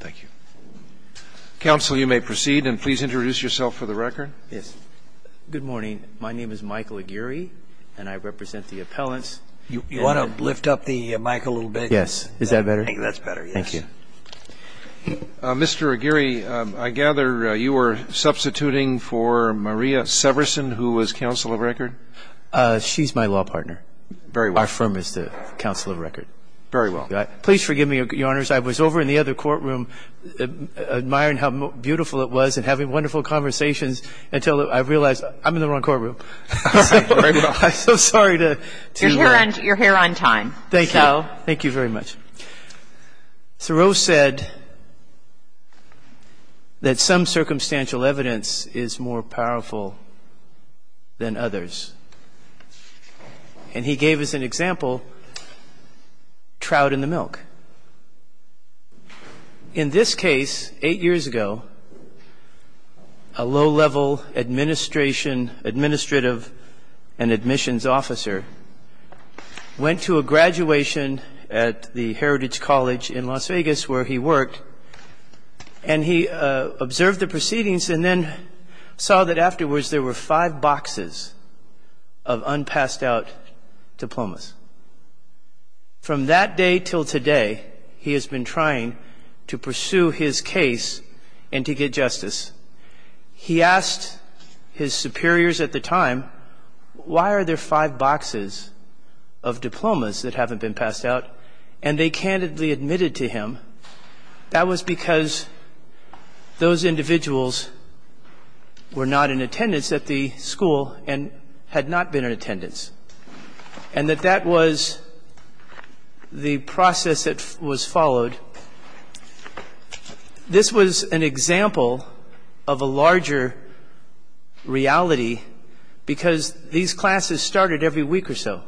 Thank you. Counsel, you may proceed, and please introduce yourself for the record. Yes. Good morning. My name is Michael Aguirre, and I represent the appellants. You want to lift up the mic a little bit? Yes. Is that better? I think that's better, yes. Thank you. Mr. Aguirre, I gather you were substituting for Maria Severson, who was counsel of record? She's my law partner. Very well. Our firm is the counsel of record. Very well. Please forgive me, Your Honors. I was over in the other courtroom admiring how beautiful it was and having wonderful conversations until I realized I'm in the wrong courtroom. All right. Very well. I'm so sorry to be here. You're here on time. Thank you. So. Thank you very much. Thoreau said that some circumstantial evidence is more powerful than others, and he gave us an example, trout in the milk. In this case, eight years ago, a low-level administration, administrative, and admissions officer went to a graduation at the Heritage College in Las Vegas, where he worked, and he observed the proceedings and then saw that afterwards there were five boxes of unpassed-out diplomas. From that day till today, he has been trying to pursue his case and to get justice. He asked his superiors at the time, why are there five boxes of diplomas that haven't been passed out? And they candidly admitted to him that was because those individuals were not in attendance at the school and had not been in attendance, and that that was the process that was followed. This was an example of a larger reality because these classes started every week or so.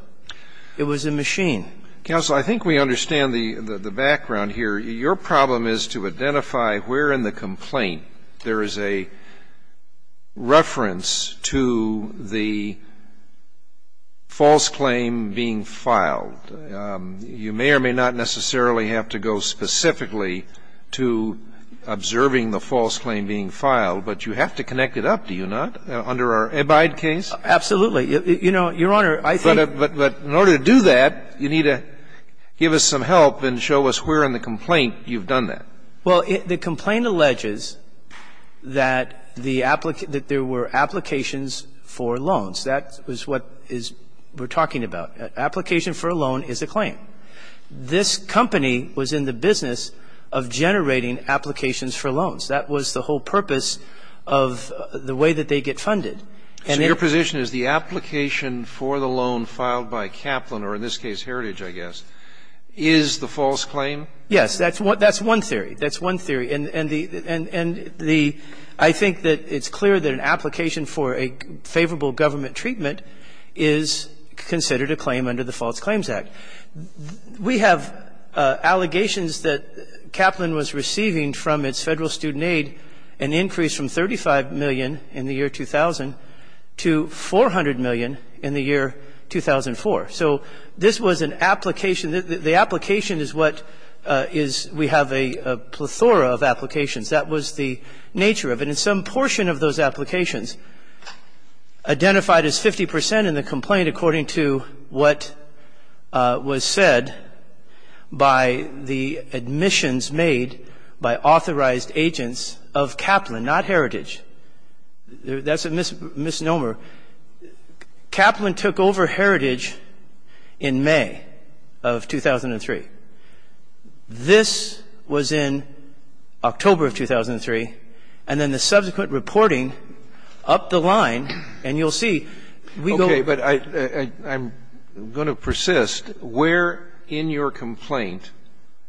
It was a machine. Counsel, I think we understand the background here. Your problem is to identify where in the complaint there is a reference to the false claim being filed. You may or may not necessarily have to go specifically to observing the false claim being filed, but you have to connect it up, do you not, under our Abide case? Absolutely. You know, Your Honor, I think. But in order to do that, you need to give us some help and show us where in the complaint you've done that. Well, the complaint alleges that there were applications for loans. That is what we're talking about. Application for a loan is a claim. This company was in the business of generating applications for loans. That was the whole purpose of the way that they get funded. So your position is the application for the loan filed by Kaplan, or in this case Heritage, I guess, is the false claim? Yes. That's one theory. That's one theory. And the ‑‑I think that it's clear that an application for a favorable government treatment is considered a claim under the False Claims Act. We have allegations that Kaplan was receiving from its Federal Student Aid an increase from $35 million in the year 2000 to $400 million in the year 2004. So this was an application. The application is what is ‑‑ we have a plethora of applications. That was the nature of it. And some portion of those applications identified as 50 percent in the complaint, according to what was said by the admissions made by authorized agents of Kaplan, not Heritage. That's a misnomer. Kaplan took over Heritage in May of 2003. This was in October of 2003. And then the subsequent reporting upped the line. And you'll see ‑‑ Okay. But I'm going to persist. Where in your complaint,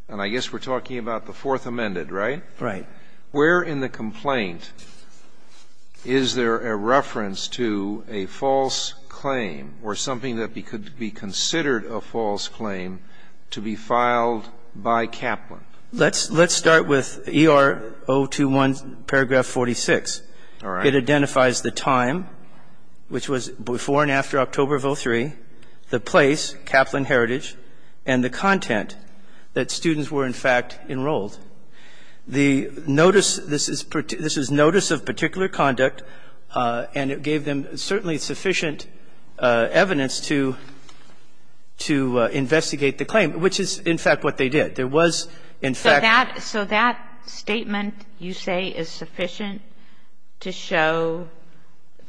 and I guess we're talking about the Fourth Amendment, right? Right. Where in the complaint is there a reference to a false claim or something that could be considered a false claim to be filed by Kaplan? Let's start with ER 021, paragraph 46. All right. It identifies the time, which was before and after October of 2003, the place, Kaplan Heritage, and the content that students were, in fact, enrolled. The notice, this is notice of particular conduct, and it gave them certainly sufficient evidence to investigate the claim, which is, in fact, what they did. There was, in fact ‑‑ So that statement, you say, is sufficient to show,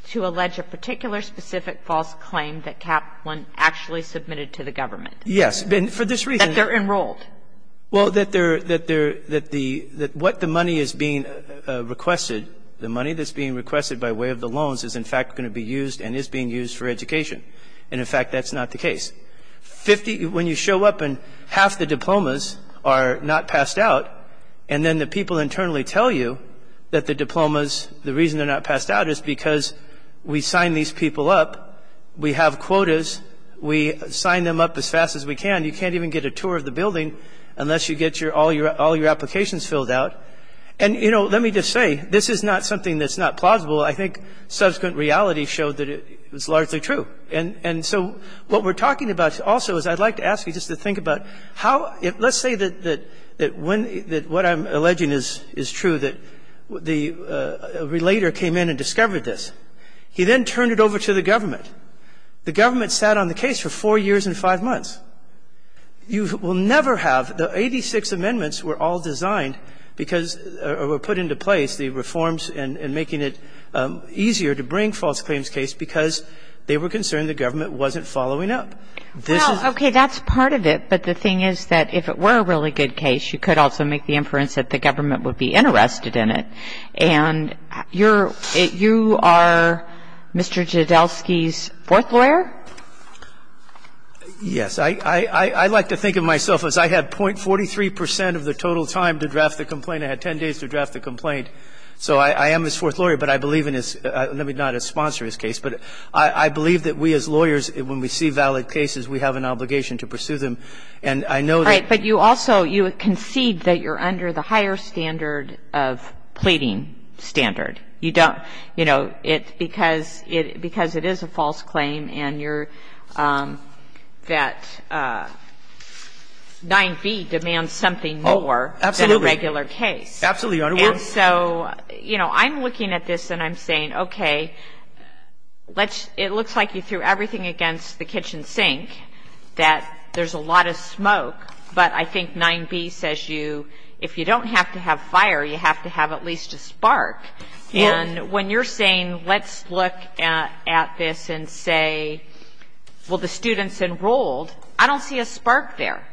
to allege a particular specific false claim that Kaplan actually submitted to the government? Yes. And for this reason ‑‑ That they're enrolled. Well, that they're ‑‑ that what the money is being requested, the money that's being requested by way of the loans, is, in fact, going to be used and is being used for education. And, in fact, that's not the case. When you show up and half the diplomas are not passed out, and then the people internally tell you that the diplomas, the reason they're not passed out is because we sign these people up, we have quotas, we sign them up as fast as we can. You can't even get a tour of the building unless you get all your applications filled out. And, you know, let me just say, this is not something that's not plausible. I think subsequent reality showed that it's largely true. And so what we're talking about also is I'd like to ask you just to think about how ‑‑ let's say that when ‑‑ that what I'm alleging is true, that the relator came in and discovered this. He then turned it over to the government. The government sat on the case for four years and five months. You will never have ‑‑ the 86 amendments were all designed because ‑‑ or were put into place, the reforms and making it easier to bring false claims case because they were concerned the government wasn't following up. This is ‑‑ Well, okay, that's part of it. But the thing is that if it were a really good case, you could also make the inference that the government would be interested in it. And you're ‑‑ you are Mr. Jodelsky's fourth lawyer? Yes. I like to think of myself as I had .43 percent of the total time to draft the complaint. I had 10 days to draft the complaint. So I am his fourth lawyer, but I believe in his ‑‑ let me not sponsor his case, but I believe that we as lawyers, when we see valid cases, we have an obligation to pursue them. And I know that ‑‑ Right. But you also ‑‑ you concede that you're under the higher standard of pleading standard. You don't ‑‑ you know, because it is a false claim and you're ‑‑ that 9B demands something more than a regular case. Absolutely, Your Honor. And so, you know, I'm looking at this and I'm saying, okay, it looks like you threw everything against the kitchen sink, that there's a lot of smoke, but I think 9B says you, if you don't have to have fire, you have to have at least a spark. And when you're saying let's look at this and say, well, the students enrolled, I don't see a spark there.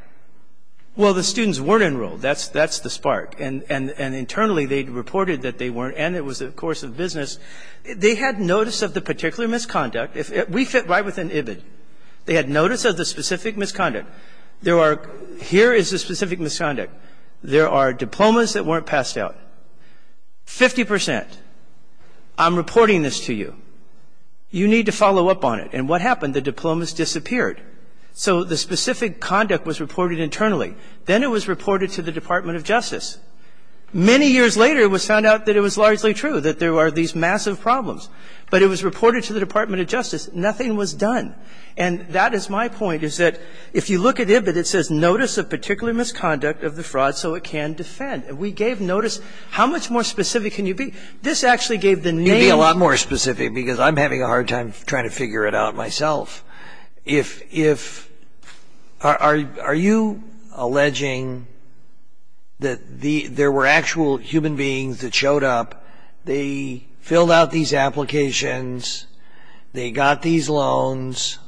Well, the students weren't enrolled. That's the spark. And internally they reported that they weren't, and it was a course of business. They had notice of the particular misconduct. We fit right within IBID. They had notice of the specific misconduct. There are ‑‑ here is the specific misconduct. There are diplomas that weren't passed out. Fifty percent, I'm reporting this to you. You need to follow up on it. And what happened? The diplomas disappeared. So the specific conduct was reported internally. Then it was reported to the Department of Justice. Many years later it was found out that it was largely true, that there are these massive problems. But it was reported to the Department of Justice. Nothing was done. And that is my point, is that if you look at IBID, it says, notice of particular misconduct of the fraud so it can defend. And we gave notice. How much more specific can you be? This actually gave the name. Sotomayor You can be a lot more specific because I'm having a hard time trying to figure it out myself. If ‑‑ are you alleging that there were actual human beings that showed up, they filled out these applications, they got these loans,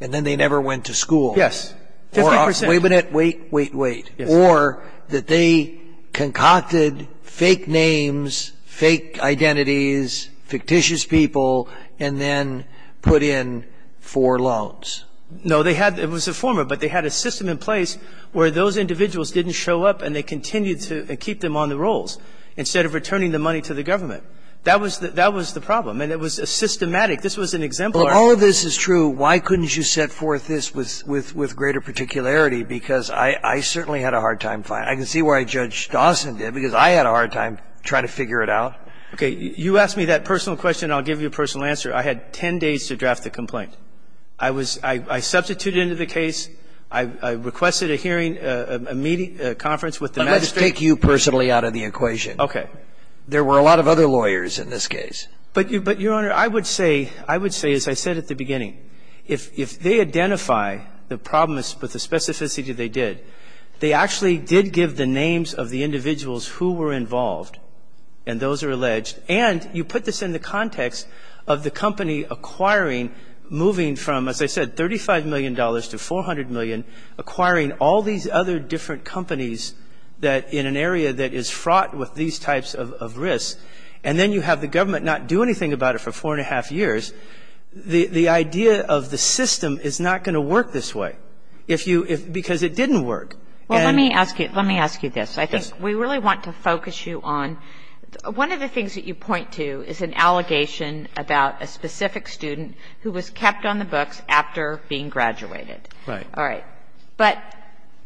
and then they never went to school? Yes. Fifty percent. Wait a minute. Wait, wait, wait. Yes. Or that they concocted fake names, fake identities, fictitious people, and then put in four loans? No. They had ‑‑ it was a former, but they had a system in place where those individuals didn't show up and they continued to keep them on the rolls. Instead of returning the money to the government. That was the problem. And it was a systematic. This was an exemplar. Well, all of this is true. Why couldn't you set forth this with greater particularity? Because I certainly had a hard time finding it. I can see why Judge Dawson did, because I had a hard time trying to figure it out. Okay. You asked me that personal question. I'll give you a personal answer. I had 10 days to draft the complaint. I was ‑‑ I substituted it into the case. I requested a hearing, a meeting, a conference with the magistrate. Let me take you personally out of the equation. Okay. There were a lot of other lawyers in this case. But, Your Honor, I would say, as I said at the beginning, if they identify the problem with the specificity they did, they actually did give the names of the individuals who were involved, and those are alleged. And you put this in the context of the company acquiring, moving from, as I said, $35 million to $400 million, acquiring all these other different companies that ‑‑ in an area that is fraught with these types of risks, and then you have the government not do anything about it for four and a half years, the idea of the system is not going to work this way. If you ‑‑ because it didn't work. Well, let me ask you ‑‑ let me ask you this. I think we really want to focus you on ‑‑ one of the things that you point to is an All right. But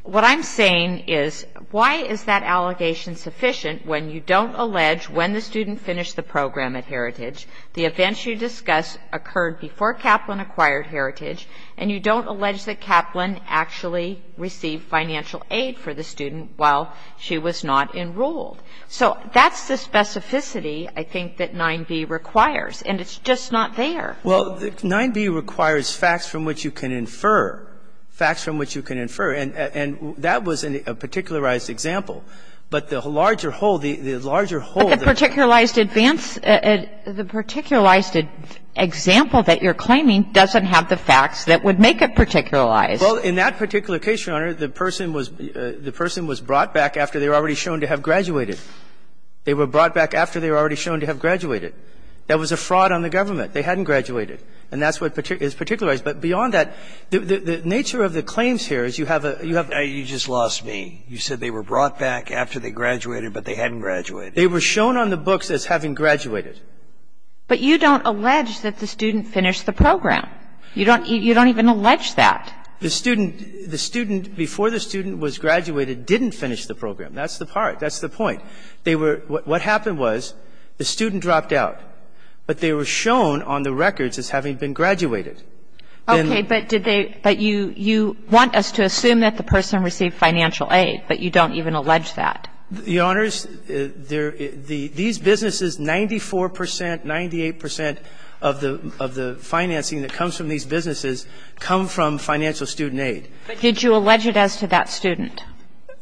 what I'm saying is why is that allegation sufficient when you don't allege when the student finished the program at Heritage, the events you discuss occurred before Kaplan acquired Heritage, and you don't allege that Kaplan actually received financial aid for the student while she was not enrolled? So that's the specificity, I think, that 9b requires, and it's just not there. Well, 9b requires facts from which you can infer, facts from which you can infer, and that was a particularized example, but the larger whole, the larger whole ‑‑ But the particularized advance ‑‑ the particularized example that you're claiming doesn't have the facts that would make it particularized. Well, in that particular case, Your Honor, the person was brought back after they were already shown to have graduated. They were brought back after they were already shown to have graduated. That was a fraud on the government. They hadn't graduated, and that's what is particularized. But beyond that, the nature of the claims here is you have a ‑‑ You just lost me. You said they were brought back after they graduated, but they hadn't graduated. They were shown on the books as having graduated. But you don't allege that the student finished the program. You don't even allege that. The student ‑‑ the student before the student was graduated didn't finish the program. That's the part. That's the point. They were ‑‑ what happened was the student dropped out, but they were shown on the records as having been graduated. Okay. But did they ‑‑ but you want us to assume that the person received financial aid, but you don't even allege that. Your Honors, these businesses, 94 percent, 98 percent of the financing that comes from these businesses come from financial student aid. But did you allege it as to that student?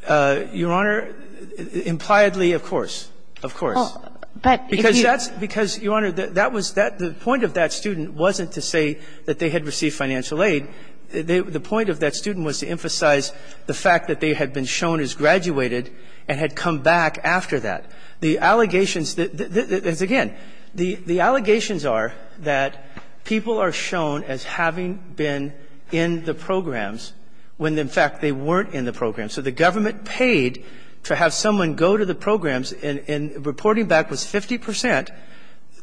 Your Honor, impliedly, of course. Of course. Because that's ‑‑ because, Your Honor, that was ‑‑ the point of that student wasn't to say that they had received financial aid. The point of that student was to emphasize the fact that they had been shown as graduated and had come back after that. The allegations ‑‑ again, the allegations are that people are shown as having been in the programs when, in fact, they weren't in the programs. So the government paid to have someone go to the programs, and reporting back was 50 percent.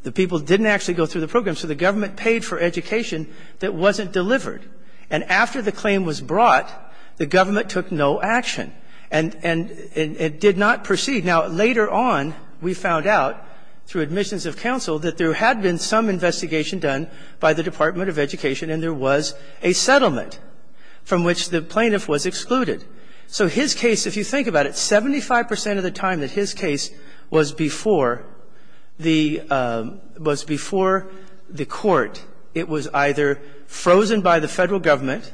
The people didn't actually go through the programs. So the government paid for education that wasn't delivered. And after the claim was brought, the government took no action and did not proceed. Now, later on, we found out through admissions of counsel that there had been some investigation done by the Department of Education and there was a settlement from which the plaintiff was excluded. So his case, if you think about it, 75 percent of the time that his case was before the ‑‑ was before the court, it was either frozen by the Federal Government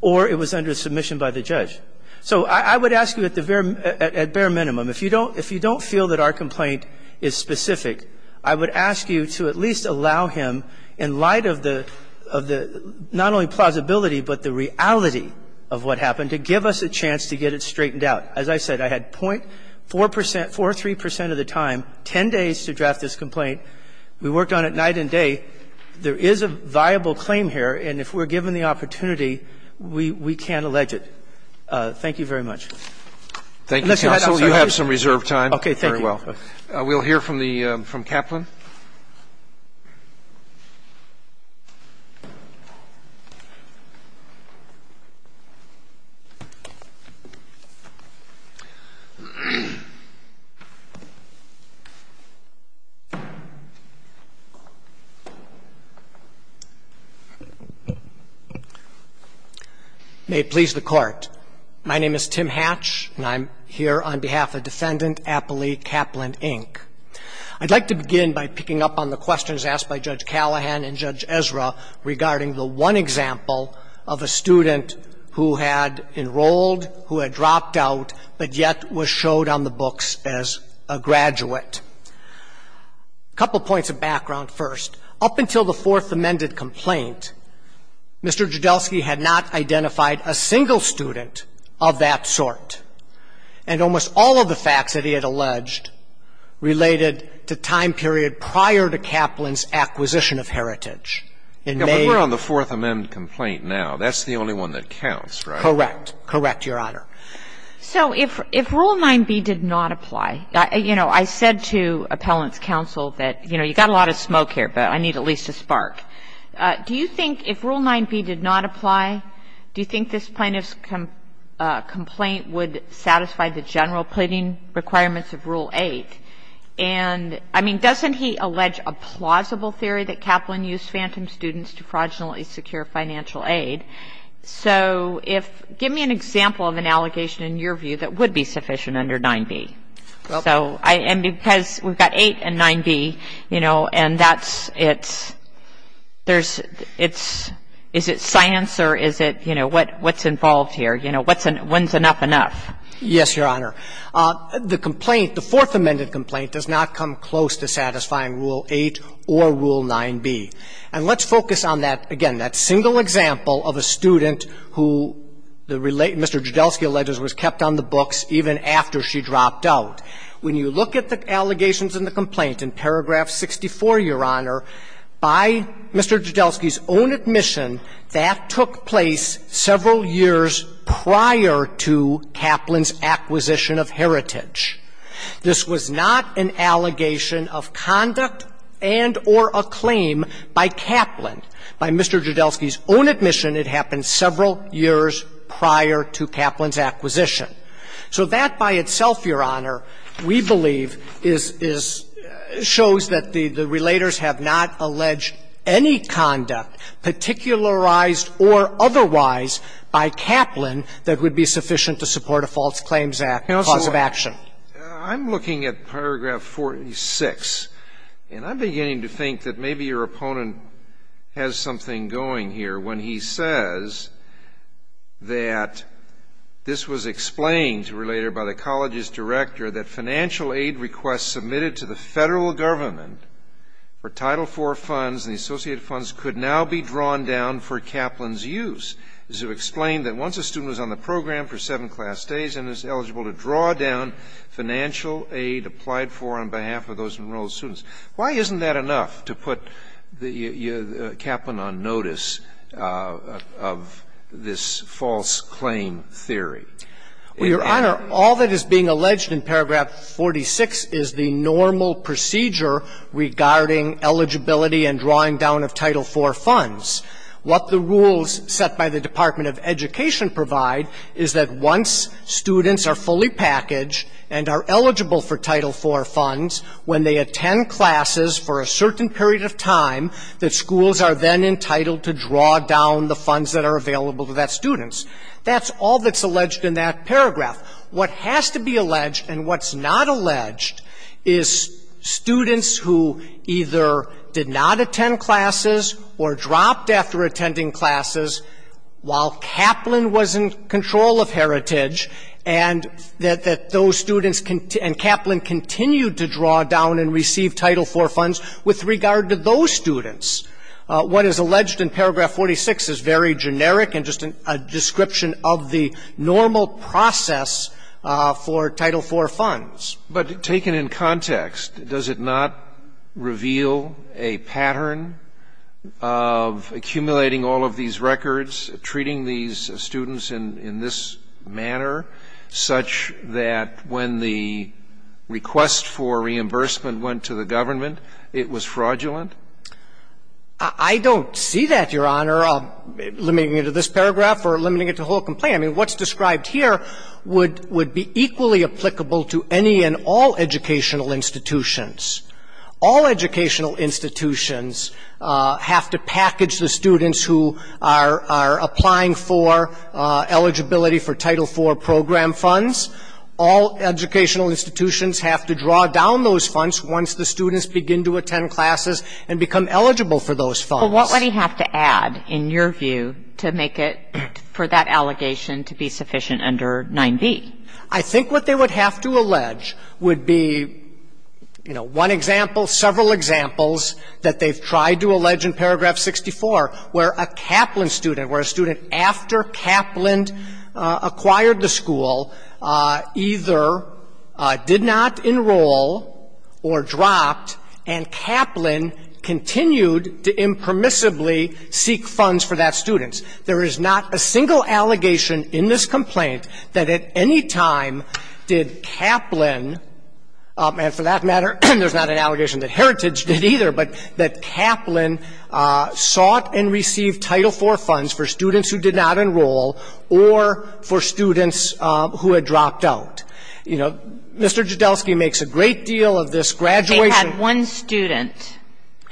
or it was under submission by the judge. So I would ask you at the very ‑‑ at bare minimum, if you don't feel that our complaint is specific, I would ask you to at least allow him, in light of the ‑‑ to give us a chance to get it straightened out. As I said, I had 0.4 percent, 4.3 percent of the time, 10 days to draft this complaint. We worked on it night and day. There is a viable claim here, and if we're given the opportunity, we can't allege it. Thank you very much. And let's go ahead. I'm sorry. Roberts. You have some reserved time. Thank you. We'll hear from the ‑‑ from Kaplan. Thank you. May it please the Court. My name is Tim Hatch, and I'm here on behalf of Defendant Appley Kaplan, Inc. I'd like to begin by picking up on the questions asked by Judge Callahan and Judge Ezra regarding the one example of a student who had enrolled, who had dropped out, but yet was showed on the books as a graduate. A couple points of background first. Up until the Fourth Amended Complaint, Mr. Joudelsky had not identified a single student of that sort. And almost all of the facts that he had alleged related to time period prior to Kaplan's acquisition of heritage. But we're on the Fourth Amendment complaint now. That's the only one that counts, right? Correct. Correct, Your Honor. So if Rule 9b did not apply, you know, I said to Appellant's counsel that, you know, you've got a lot of smoke here, but I need at least a spark. Do you think if Rule 9b did not apply, do you think this plaintiff's complaint would satisfy the general pleading requirements of Rule 8? And, I mean, doesn't he allege a plausible theory that Kaplan used phantom students to fraudulently secure financial aid? So if — give me an example of an allegation in your view that would be sufficient under 9b. So I — and because we've got 8 and 9b, you know, and that's — it's — there's — it's — is it science or is it, you know, what's involved here? You know, when's enough enough? Yes, Your Honor. The complaint, the Fourth Amendment complaint, does not come close to satisfying Rule 8 or Rule 9b. And let's focus on that, again, that single example of a student who Mr. Joudelsky alleged was kept on the books even after she dropped out. When you look at the allegations in the complaint in paragraph 64, Your Honor, by Mr. Joudelsky's own admission, that took place several years prior to Kaplan's acquisition of heritage. This was not an allegation of conduct and or a claim by Kaplan. By Mr. Joudelsky's own admission, it happened several years prior to Kaplan's acquisition. So that by itself, Your Honor, we believe is — is — shows that the — the relators have not alleged any conduct, particularized or otherwise, by Kaplan that would be sufficient to support a False Claims Act cause of action. I'm looking at paragraph 46, and I'm beginning to think that maybe your opponent has something going here when he says that this was explained to a relator by the college's director that financial aid requests submitted to the federal government for Title IV funds and the associated funds could now be drawn down for Kaplan's use. This would explain that once a student was on the program for seven class days and is eligible to draw down financial aid applied for on behalf of those enrolled students. Why isn't that enough to put the — Kaplan on notice of this false claim theory? Well, Your Honor, all that is being alleged in paragraph 46 is the normal procedure regarding eligibility and drawing down of Title IV funds. What the rules set by the Department of Education provide is that once students are fully packaged and are eligible for Title IV funds, when they attend classes for a certain period of time, that schools are then entitled to draw down the funds that are available to that student. That's all that's alleged in that paragraph. What has to be alleged and what's not alleged is students who either did not attend classes or dropped after attending classes while Kaplan was in control of Heritage and that those students and Kaplan continued to draw down and receive Title IV funds with regard to those students. What is alleged in paragraph 46 is very generic and just a description of the normal process for Title IV funds. But taken in context, does it not reveal a pattern of accumulating all of these such that when the request for reimbursement went to the government, it was fraudulent? I don't see that, Your Honor. Limiting it to this paragraph or limiting it to the whole complaint. I mean, what's described here would be equally applicable to any and all educational institutions. All educational institutions have to package the students who are applying for eligibility for Title IV program funds. All educational institutions have to draw down those funds once the students begin to attend classes and become eligible for those funds. But what would he have to add, in your view, to make it for that allegation to be sufficient under 9b? I think what they would have to allege would be, you know, one example, several examples that they've tried to allege in paragraph 64 where a Kaplan student, where a student after Kaplan acquired the school either did not enroll or dropped, and Kaplan continued to impermissibly seek funds for that student. There is not a single allegation in this complaint that at any time did Kaplan – and for that matter, there's not an allegation that Heritage did either – but that Kaplan sought and received Title IV funds for students who did not enroll or for students who had dropped out. You know, Mr. Jodelsky makes a great deal of this graduation. They had one student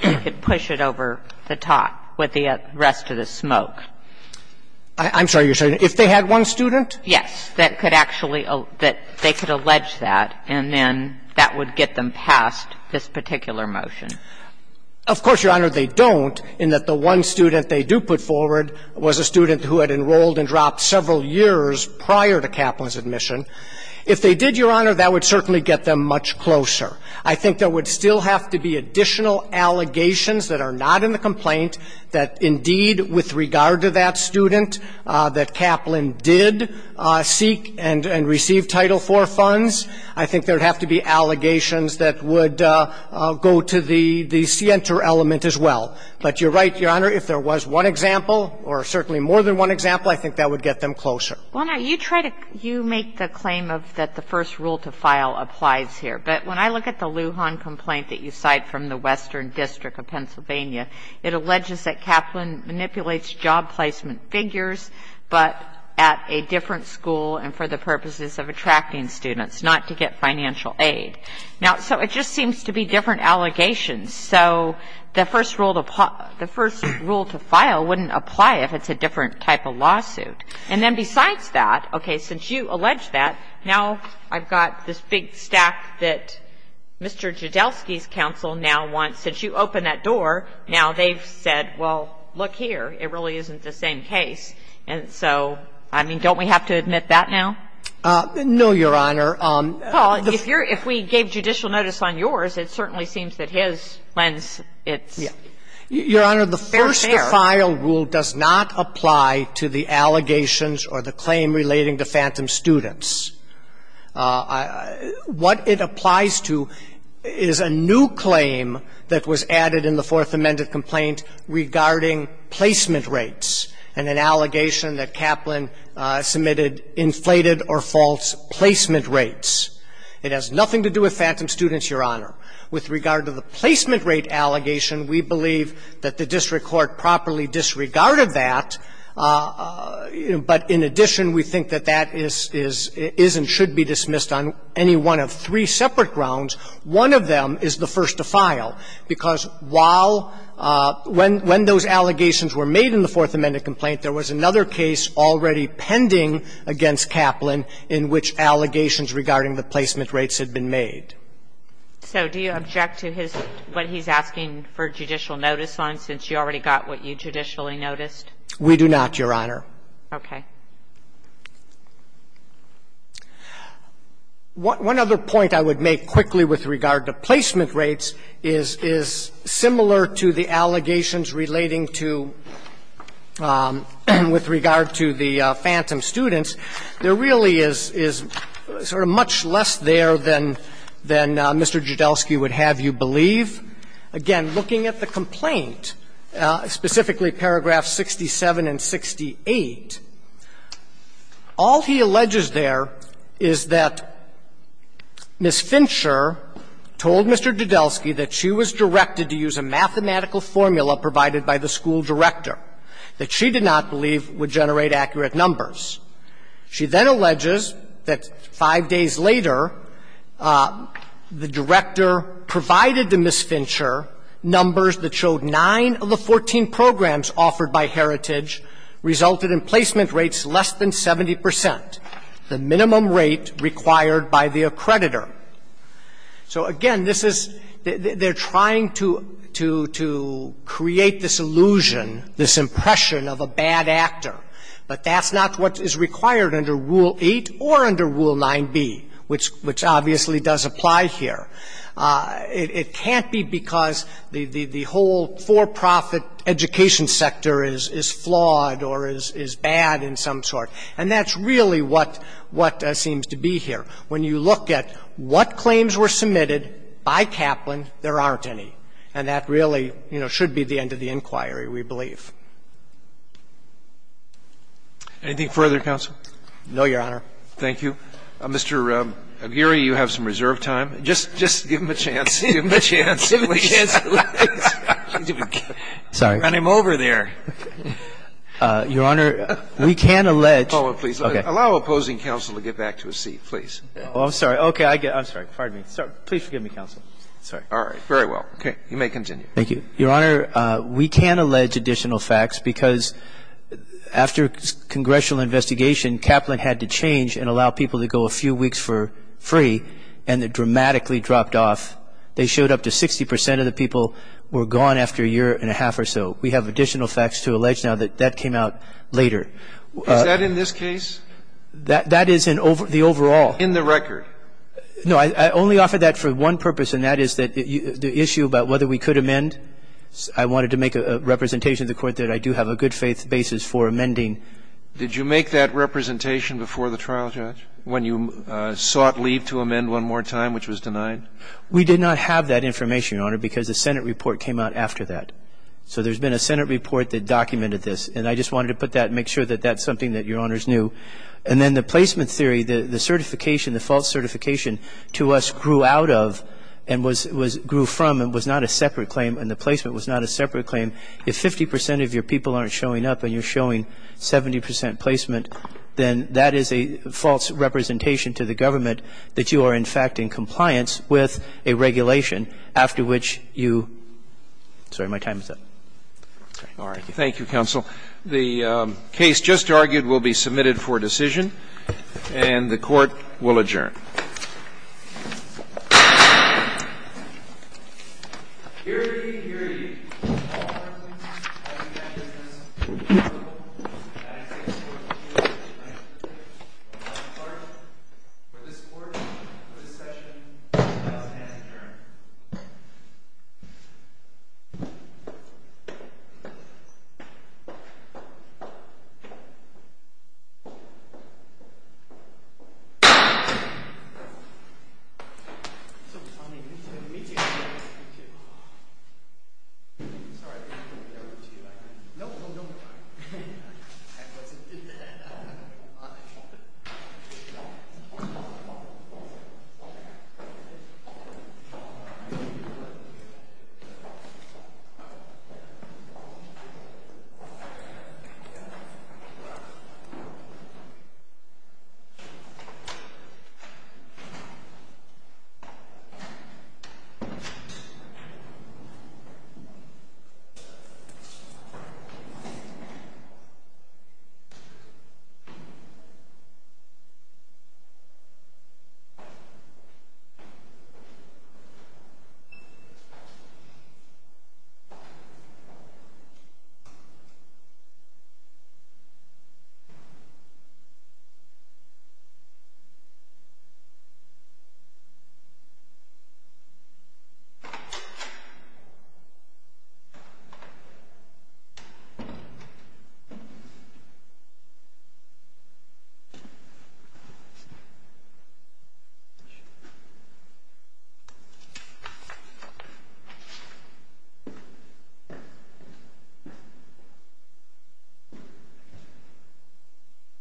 that could push it over the top with the rest of the smoke. I'm sorry. You're saying if they had one student? Yes, that could actually – that they could allege that, and then that would get them past this particular motion. Of course, Your Honor, they don't, in that the one student they do put forward was a student who had enrolled and dropped several years prior to Kaplan's admission. If they did, Your Honor, that would certainly get them much closer. I think there would still have to be additional allegations that are not in the complaint that, indeed, with regard to that student, that Kaplan did seek and received Title IV funds. I think there would have to be allegations that would go to the – the scienter element as well. But you're right, Your Honor, if there was one example, or certainly more than one example, I think that would get them closer. Well, now, you try to – you make the claim of that the first rule to file applies here. But when I look at the Lujan complaint that you cite from the Western District of Pennsylvania, it alleges that Kaplan manipulates job placement figures, but at a different school and for the purposes of attracting students, not to get financial aid. Now, so it just seems to be different allegations. So the first rule to – the first rule to file wouldn't apply if it's a different type of lawsuit. And then besides that, okay, since you allege that, now I've got this big stack that Mr. Jodelsky's counsel now wants – since you opened that door, now they've said, well, look here, it really isn't the same case. And so, I mean, don't we have to admit that now? No, Your Honor. Paul, if you're – if we gave judicial notice on yours, it certainly seems that his lens, it's fair. Your Honor, the first to file rule does not apply to the allegations or the claim relating to Phantom students. What it applies to is a new claim that was added in the Fourth Amendment complaint regarding placement rates and an allegation that Kaplan submitted inflated or false placement rates. It has nothing to do with Phantom students, Your Honor. With regard to the placement rate allegation, we believe that the district court properly disregarded that, but in addition, we think that that is – is and should be dismissed on any one of three separate grounds. One of them is the first to file, because while – when those allegations were made in the Fourth Amendment complaint, there was another case already pending against Kaplan in which allegations regarding the placement rates had been made. So do you object to his – what he's asking for judicial notice on, since you already got what you judicially noticed? We do not, Your Honor. Okay. One other point I would make quickly with regard to placement rates is – is similar to the allegations relating to – with regard to the Phantom students. There really is – is sort of much less there than – than Mr. Jodelsky would have you believe. Again, looking at the complaint, specifically paragraphs 67 and 68, the plaintiffs' case, all he alleges there is that Ms. Fincher told Mr. Jodelsky that she was directed to use a mathematical formula provided by the school director that she did not believe would generate accurate numbers. She then alleges that five days later, the director provided to Ms. Fincher numbers that showed nine of the 14 programs offered by Heritage resulted in placement rates less than 70 percent, the minimum rate required by the accreditor. So, again, this is – they're trying to – to create this illusion, this impression of a bad actor, but that's not what is required under Rule 8 or under Rule 9b, which obviously does apply here. It can't be because the whole for-profit education sector is flawed or is bad in some sort, and that's really what seems to be here. When you look at what claims were submitted by Kaplan, there aren't any. And that really, you know, should be the end of the inquiry, we believe. Roberts. Anything further, counsel? No, Your Honor. Thank you. Mr. Aguirre, you have some reserve time. Just give him a chance. Give him a chance. Give him a chance. Sorry. Run him over there. Your Honor, we can allege – Hold on, please. Okay. Allow opposing counsel to get back to his seat, please. Oh, I'm sorry. Okay. I'm sorry. Pardon me. Please forgive me, counsel. Sorry. All right. Very well. Okay. You may continue. Thank you. Your Honor, we can allege additional facts because after congressional investigation, Kaplan had to change and allow people to go a few weeks for free and it dramatically dropped off. They showed up to 60 percent of the people were gone after a year and a half or so. We have additional facts to allege now that that came out later. Is that in this case? That is in the overall. In the record. No. I only offer that for one purpose, and that is the issue about whether we could amend. I wanted to make a representation to the Court that I do have a good faith basis for amending. Did you make that representation before the trial, Judge, when you sought leave to amend one more time, which was denied? We did not have that information, Your Honor, because the Senate report came out after that. So there's been a Senate report that documented this. And I just wanted to put that and make sure that that's something that Your Honors knew. And then the placement theory, the certification, the false certification to us grew out of and was grew from and was not a separate claim and the placement was not a separate claim. If 50 percent of your people aren't showing up and you're showing 70 percent placement, then that is a false representation to the government that you are, in fact, in compliance with a regulation after which you – sorry, my time is up. Thank you. All right. Thank you, counsel. The case just argued will be submitted for decision, and the Court will adjourn. Hearing, hearing. All parties, I suggest this be called a vote. The next case is court-appointed. The last part for this Court, for this session, has been adjourned. Thank you. Thank you. Thank you. Thank you. Thank you.